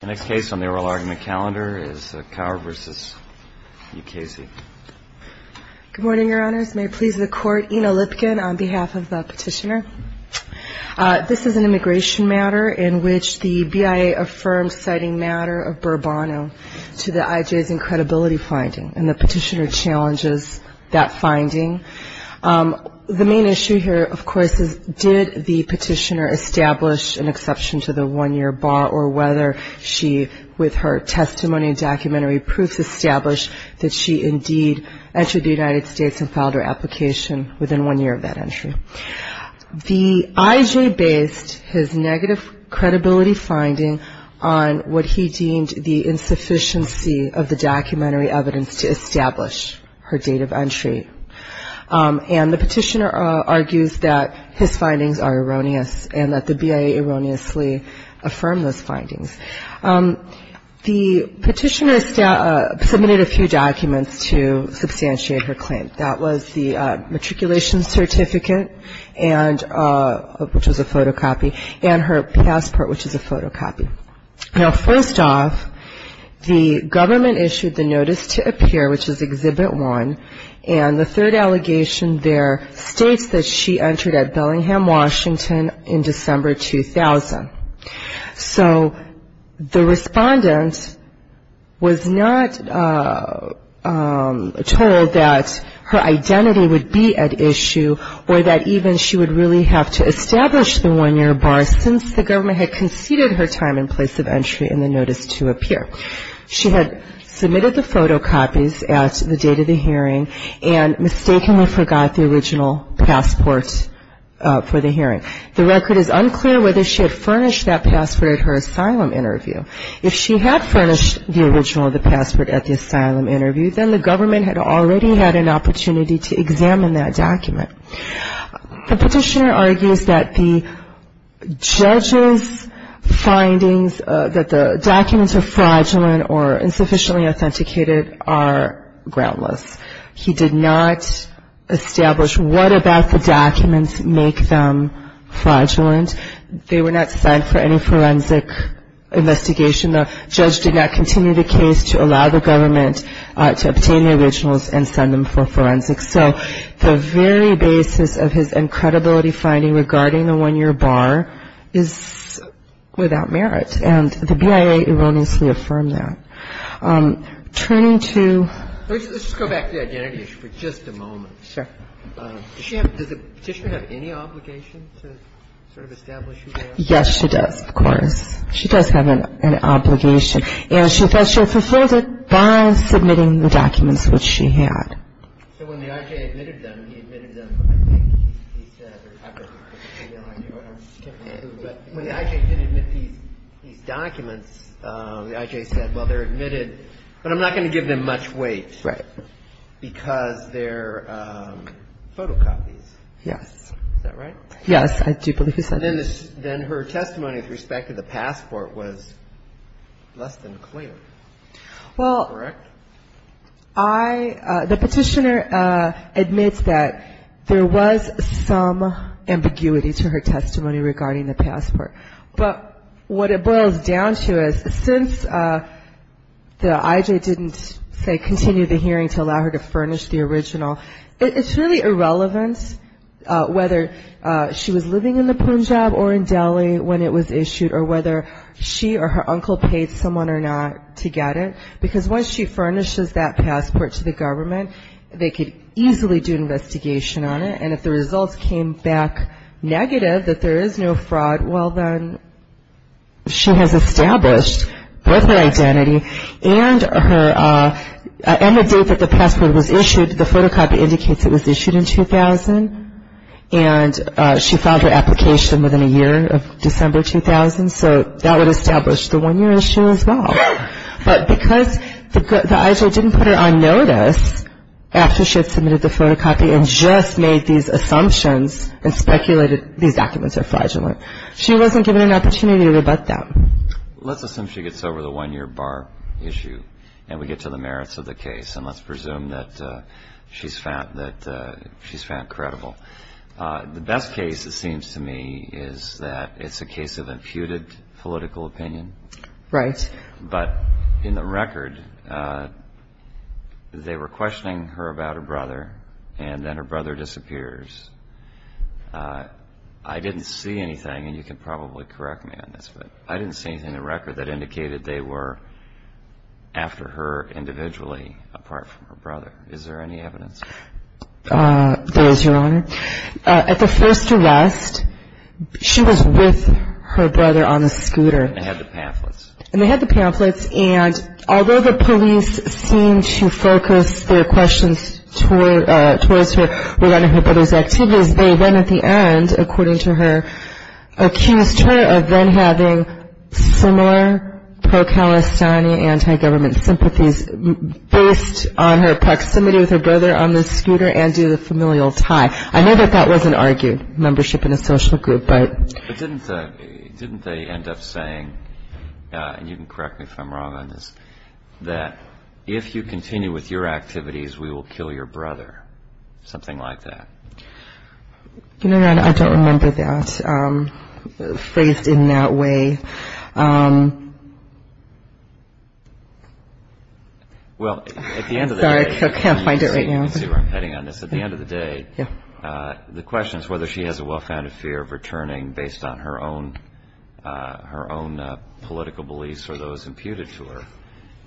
The next case on the oral argument calendar is Kaur v. Mukasey. Good morning, Your Honors. May it please the Court, Ina Lipkin on behalf of the petitioner. This is an immigration matter in which the BIA affirms citing matter of Burbano to the IJ's incredibility finding, and the petitioner challenges that finding. The main issue here, of course, is did the petitioner establish an exception to the one-year bar or whether she, with her testimony and documentary proofs, established that she indeed entered the United States and filed her application within one year of that entry. The IJ based his negative credibility finding on what he deemed the insufficiency of the documentary evidence to establish her date of entry, and the petitioner argues that his findings are erroneous and that the BIA erroneously affirmed those findings. The petitioner submitted a few documents to substantiate her claim. That was the matriculation certificate, which was a photocopy, and her passport, which is a photocopy. Now, first off, the government issued the notice to appear, which is Exhibit 1, and the third allegation there states that she entered at Bellingham, Washington in December 2000. So the respondent was not told that her identity would be at issue or that even she would really have to establish the one-year bar since the government had conceded her time and place of entry in the notice to appear. She had submitted the photocopies at the date of the hearing and mistakenly forgot the original passport for the hearing. The record is unclear whether she had furnished that passport at her asylum interview. If she had furnished the original of the passport at the asylum interview, then the government had already had an opportunity to examine that document. The petitioner argues that the judge's findings, that the documents are fraudulent or insufficiently authenticated, are groundless. He did not establish what about the documents make them fraudulent. They were not sent for any forensic investigation. The judge did not continue the case to allow the government to obtain the originals and send them for forensics. So the very basis of his incredibility finding regarding the one-year bar is without merit. And the BIA erroneously affirmed that. Turning to — Let's just go back to the identity issue for just a moment. Sure. Does the petitioner have any obligation to sort of establish who they are? Yes, she does, of course. She does have an obligation. And she says she fulfilled it by submitting the documents which she had. So when the I.J. admitted them, he admitted them. He said, or I don't know, but when the I.J. did admit these documents, the I.J. said, well, they're admitted, but I'm not going to give them much weight. Right. Because they're photocopies. Yes. Is that right? Yes, I do believe he said that. Then her testimony with respect to the passport was less than clear, correct? The petitioner admits that there was some ambiguity to her testimony regarding the passport. But what it boils down to is since the I.J. didn't, say, continue the hearing to allow her to furnish the original, it's really irrelevant whether she was living in the Punjab or in Delhi when it was issued or whether she or her uncle paid someone or not to get it. Because once she furnishes that passport to the government, they could easily do an investigation on it. And if the results came back negative, that there is no fraud, well, then she has established both her identity and the date that the passport was issued. The photocopy indicates it was issued in 2000, and she filed her application within a year of December 2000. So that would establish the one-year issue as well. But because the I.J. didn't put her on notice after she had submitted the photocopy and just made these assumptions and speculated these documents are fraudulent, she wasn't given an opportunity to rebut that. Let's assume she gets over the one-year bar issue and we get to the merits of the case, and let's presume that she's found credible. The best case, it seems to me, is that it's a case of imputed political opinion. Right. But in the record, they were questioning her about her brother, and then her brother disappears. I didn't see anything, and you can probably correct me on this, but I didn't see anything in the record that indicated they were after her individually apart from her brother. Is there any evidence? There is, Your Honor. At the first arrest, she was with her brother on the scooter. And they had the pamphlets. And they had the pamphlets, and although the police seemed to focus their questions towards her regarding her brother's activities, they then at the end, according to her, accused her of then having similar pro-Palestinian, anti-government sympathies based on her proximity with her brother on the scooter and due to the familial tie. I know that that wasn't argued, membership in a social group. But didn't they end up saying, and you can correct me if I'm wrong on this, that if you continue with your activities, we will kill your brother, something like that? Your Honor, I don't remember that phrased in that way. Sorry, I can't find it right now. You can see where I'm heading on this. At the end of the day, the question is whether she has a well-founded fear of returning based on her own political beliefs or those imputed to her.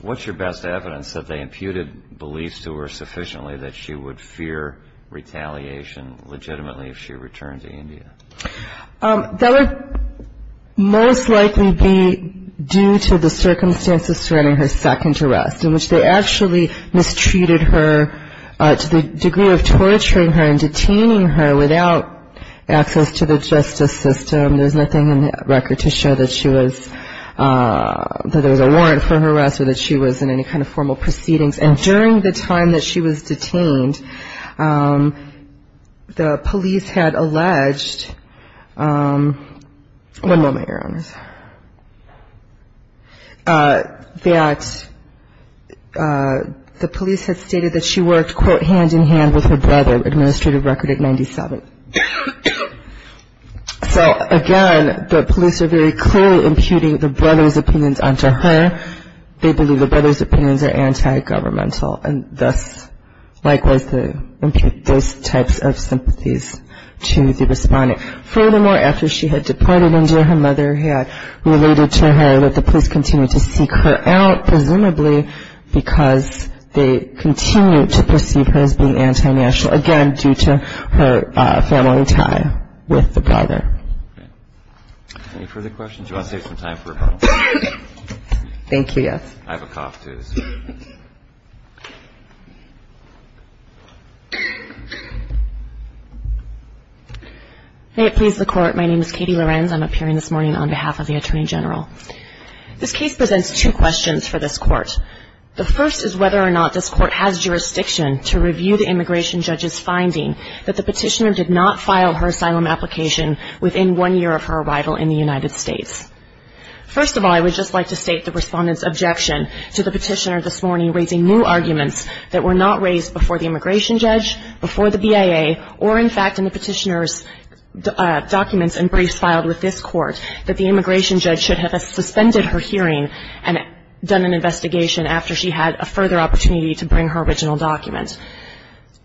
What's your best evidence that they imputed beliefs to her sufficiently that she would fear retaliation legitimately if she returned to India? That would most likely be due to the circumstances surrounding her second arrest, in which they actually mistreated her to the degree of torturing her and detaining her without access to the justice system. There's nothing in the record to show that she was, that there was a warrant for her arrest or that she was in any kind of formal proceedings. And during the time that she was detained, the police had alleged, one moment, Your Honor, that the police had stated that she worked, quote, hand-in-hand with her brother, administrative record at 97. So, again, the police are very clearly imputing the brother's opinions onto her. They believe the brother's opinions are anti-governmental and thus likewise they impute those types of sympathies to the respondent. Furthermore, after she had deported India, her mother had related to her that the police continued to seek her out, presumably because they continued to perceive her as being anti-national, again, due to her family tie with the brother. Any further questions? Do you want to take some time for a couple? Thank you, yes. I have a cough, too, so. May it please the Court. My name is Katie Lorenz. I'm appearing this morning on behalf of the Attorney General. This case presents two questions for this Court. The first is whether or not this Court has jurisdiction to review the immigration judge's finding that the petitioner did not file her asylum application within one year of her arrival in the United States. First of all, I would just like to state the respondent's objection to the petitioner this morning, raising new arguments that were not raised before the immigration judge, before the BIA, or, in fact, in the petitioner's documents and briefs filed with this Court, that the immigration judge should have suspended her hearing and done an investigation after she had a further opportunity to bring her original document.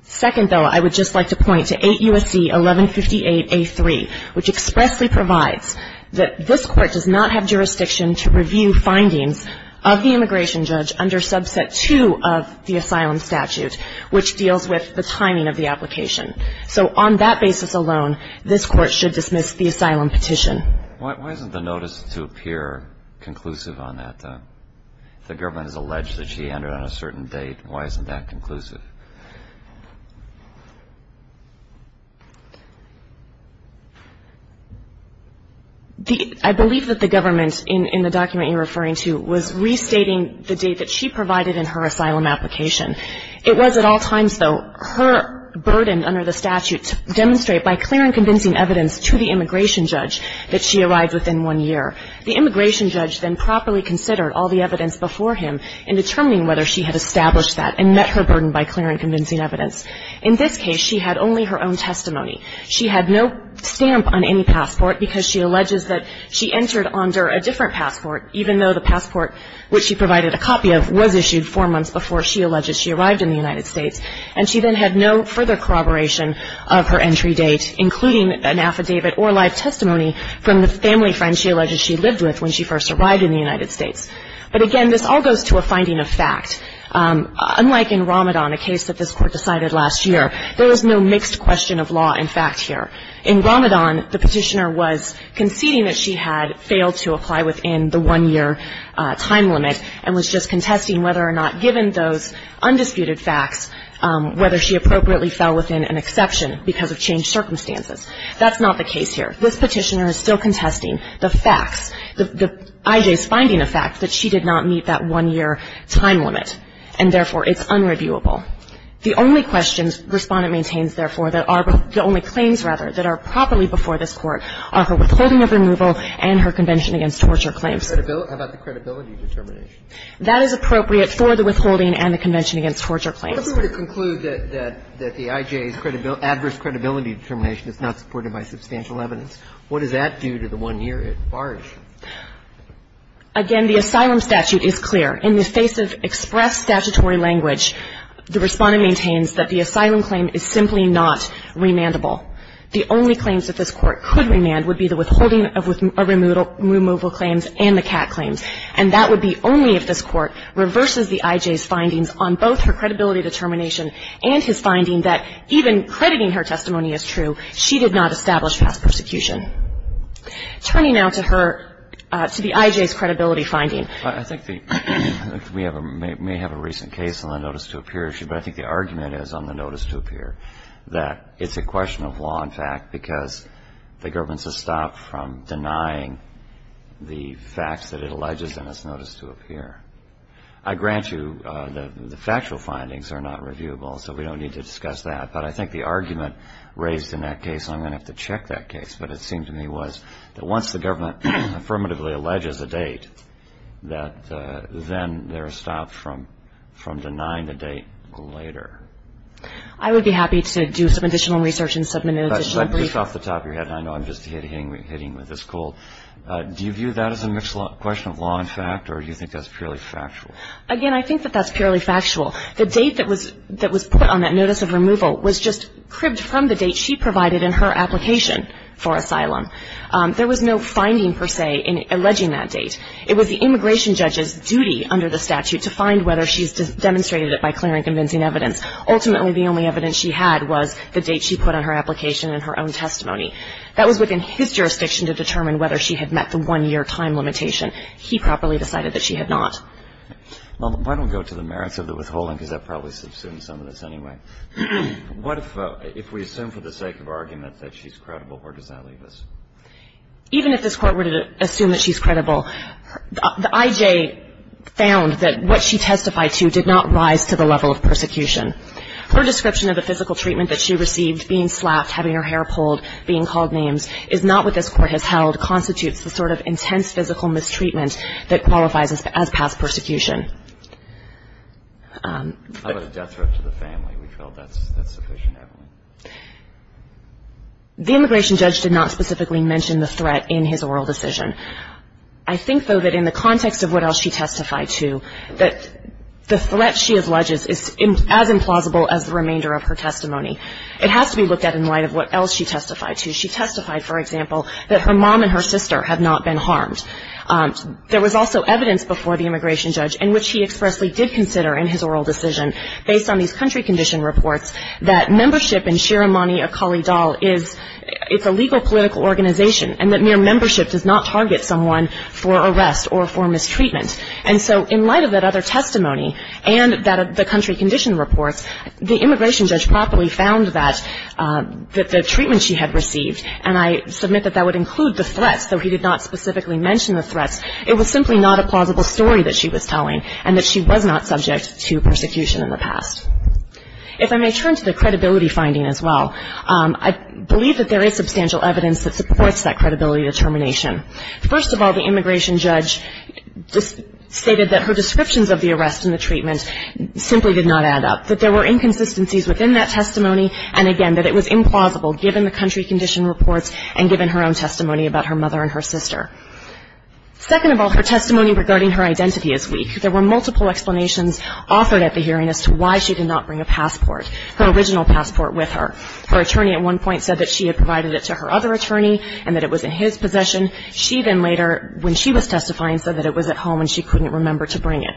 Second, though, I would just like to point to 8 U.S.C. 1158A3, which expressly provides that this Court does not have jurisdiction to review findings of the immigration judge under Subset 2 of the asylum statute, which deals with the timing of the application. So on that basis alone, this Court should dismiss the asylum petition. Why isn't the notice to appear conclusive on that, though? If the government has alleged that she entered on a certain date, why isn't that conclusive? I believe that the government, in the document you're referring to, was restating the date that she provided in her asylum application. It was at all times, though, her burden under the statute to demonstrate, by clear and convincing evidence to the immigration judge, that she arrived within one year. The immigration judge then properly considered all the evidence before him in determining whether she had established that and met her burden by clear and convincing evidence. In this case, she had only her own testimony. She had no stamp on any passport because she alleges that she entered under a different passport, even though the passport, which she provided a copy of, was issued four months before she alleged she arrived in the United States. And she then had no further corroboration of her entry date, including an affidavit or live testimony from the family friend she alleges she lived with when she first arrived in the United States. But, again, this all goes to a finding of fact. Unlike in Ramadan, a case that this Court decided last year, there was no mixed question of law and fact here. In Ramadan, the petitioner was conceding that she had failed to apply within the one-year time limit and was just contesting whether or not, given those undisputed facts, whether she appropriately fell within an exception because of changed circumstances. That's not the case here. This petitioner is still contesting the facts, I.J.'s finding of fact, that she did not meet that one-year time limit, and, therefore, it's unreviewable. The only questions Respondent maintains, therefore, that are the only claims, rather, that are properly before this Court are her withholding of removal and her convention against torture claims. Roberts. How about the credibility determination? That is appropriate for the withholding and the convention against torture claims. If we were to conclude that the I.J.'s adverse credibility determination is not supported by substantial evidence, what does that do to the one-year at large? Again, the asylum statute is clear. In the face of express statutory language, the Respondent maintains that the asylum claim is simply not remandable. The only claims that this Court could remand would be the withholding of removal claims and the cat claims, and that would be only if this Court reverses the I.J.'s findings on both her credibility determination and his finding that even crediting her testimony as true, she did not establish past persecution. Turning now to her to the I.J.'s credibility finding. I think we may have a recent case on the notice to appear issue, but I think the argument is on the notice to appear that it's a question of law and fact because the government has stopped from denying the facts that it alleges in its notice to appear. I grant you that the factual findings are not reviewable, so we don't need to discuss that, but I think the argument raised in that case, and I'm going to have to check that case, but it seemed to me was that once the government affirmatively alleges a date, that then they're stopped from denying the date later. I would be happy to do some additional research and submit an additional brief. But just off the top of your head, and I know I'm just hitting with this cold, do you view that as a question of law and fact, or do you think that's purely factual? Again, I think that that's purely factual. The date that was put on that notice of removal was just cribbed from the date she provided in her application for asylum. There was no finding, per se, in alleging that date. It was the immigration judge's duty under the statute to find whether she's demonstrated it by clear and convincing evidence. Ultimately, the only evidence she had was the date she put on her application and her own testimony. That was within his jurisdiction to determine whether she had met the one-year time limitation. He properly decided that she had not. Well, why don't we go to the merits of the withholding, because that probably subsumes some of this anyway. What if we assume for the sake of argument that she's credible? Where does that leave us? Even if this Court were to assume that she's credible, the IJ found that what she testified to did not rise to the level of persecution. Her description of the physical treatment that she received, being slapped, having her hair pulled, being called names, is not what this Court has held, constitutes the sort of intense physical mistreatment that qualifies as past persecution. How about a death threat to the family? We felt that's sufficient evidence. The immigration judge did not specifically mention the threat in his oral decision. I think, though, that in the context of what else she testified to, that the threat she alleges is as implausible as the remainder of her testimony. It has to be looked at in light of what else she testified to. She testified, for example, that her mom and her sister had not been harmed. There was also evidence before the immigration judge, in which he expressly did consider in his oral decision, based on these country condition reports, that membership in Shiromani Akali Dal is a legal political organization, and that mere membership does not target someone for arrest or for mistreatment. And so in light of that other testimony and the country condition reports, the immigration judge properly found that the treatment she had received, and I submit that that would include the threats, though he did not specifically mention the threats. It was simply not a plausible story that she was telling, and that she was not subject to persecution in the past. If I may turn to the credibility finding as well, I believe that there is substantial evidence that supports that credibility determination. First of all, the immigration judge stated that her descriptions of the arrest and the and, again, that it was implausible, given the country condition reports and given her own testimony about her mother and her sister. Second of all, her testimony regarding her identity is weak. There were multiple explanations offered at the hearing as to why she did not bring a passport, her original passport with her. Her attorney at one point said that she had provided it to her other attorney and that it was in his possession. She then later, when she was testifying, said that it was at home and she couldn't remember to bring it.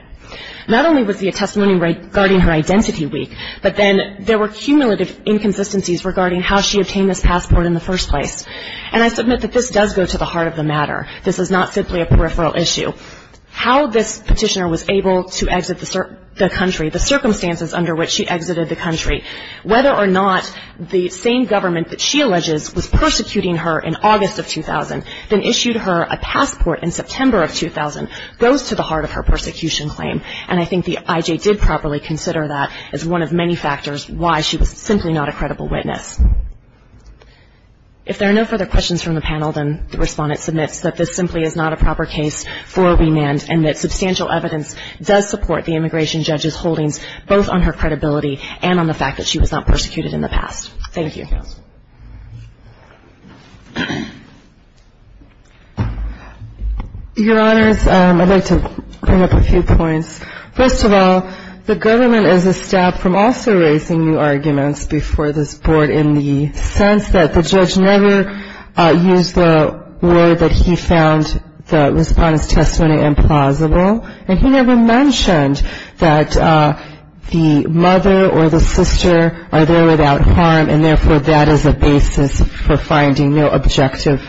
Not only was the testimony regarding her identity weak, but then there were cumulative inconsistencies regarding how she obtained this passport in the first place. And I submit that this does go to the heart of the matter. This is not simply a peripheral issue. How this petitioner was able to exit the country, the circumstances under which she exited the country, whether or not the same government that she alleges was persecuting her in August of 2000, then issued her a passport in September of 2000, goes to the prosecution claim. And I think the IJ did properly consider that as one of many factors why she was simply not a credible witness. If there are no further questions from the panel, then the respondent submits that this simply is not a proper case for remand and that substantial evidence does support the immigration judge's holdings, both on her credibility and on the fact that she was not persecuted in the past. Thank you. Your Honors, I'd like to bring up a few points. First of all, the government is a step from also raising new arguments before this board in the sense that the judge never used the word that he found the respondent's testimony implausible, and he never mentioned that the mother or the sister are there without harm and therefore that is a basis for finding no objective,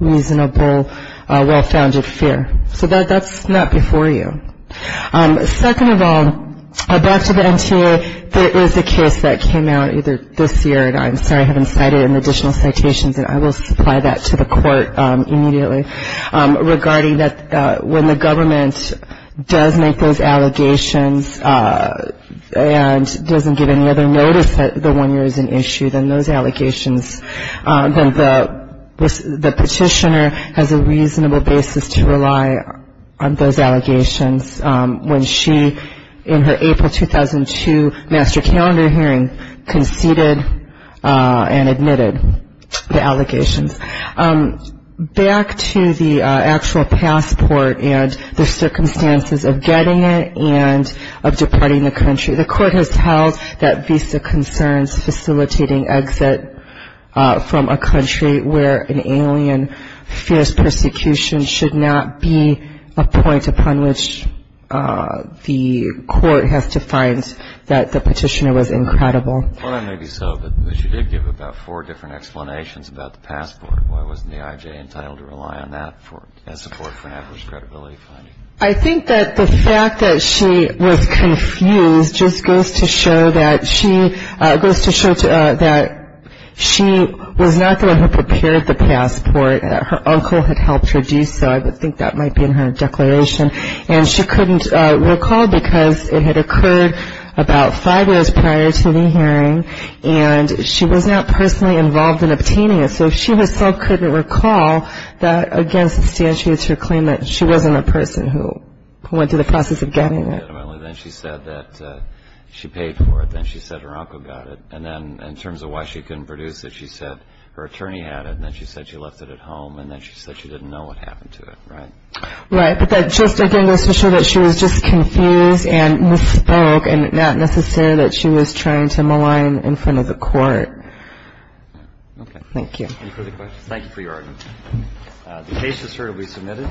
reasonable, well-founded fear. So that's not before you. Second of all, back to the NTA, there is a case that came out either this year, and I'm sorry I haven't cited it in additional citations, and I will supply that to the court immediately, regarding that when the government does make those allegations and doesn't give any other notice that the one year is an issue, then the petitioner has a reasonable basis to rely on those allegations when she, in her April 2002 master calendar hearing, conceded and admitted the allegations. Back to the actual passport and the circumstances of getting it and of departing the country, the court has held that visa concerns facilitating exit from a country where an alien fierce persecution should not be a point upon which the court has to find that the petitioner was incredible. Well, that may be so, but she did give about four different explanations about the passport. Why wasn't the IJ entitled to rely on that as support for adverse credibility finding? I think that the fact that she was confused just goes to show that she was not the one who prepared the passport. Her uncle had helped her do so. I think that might be in her declaration, and she couldn't recall because it had occurred about five years prior to the hearing, and she was not personally involved in obtaining it. So she herself couldn't recall that, again, substantiates her claim that she wasn't a person who went through the process of getting it. Then she said that she paid for it. Then she said her uncle got it. And then in terms of why she couldn't produce it, she said her attorney had it. And then she said she left it at home. And then she said she didn't know what happened to it, right? Right. But that just, again, goes to show that she was just confused and misspoke and not necessarily that she was trying to malign in front of the court. Okay. Thank you. Any further questions? Thank you for your argument. The case is certainly submitted.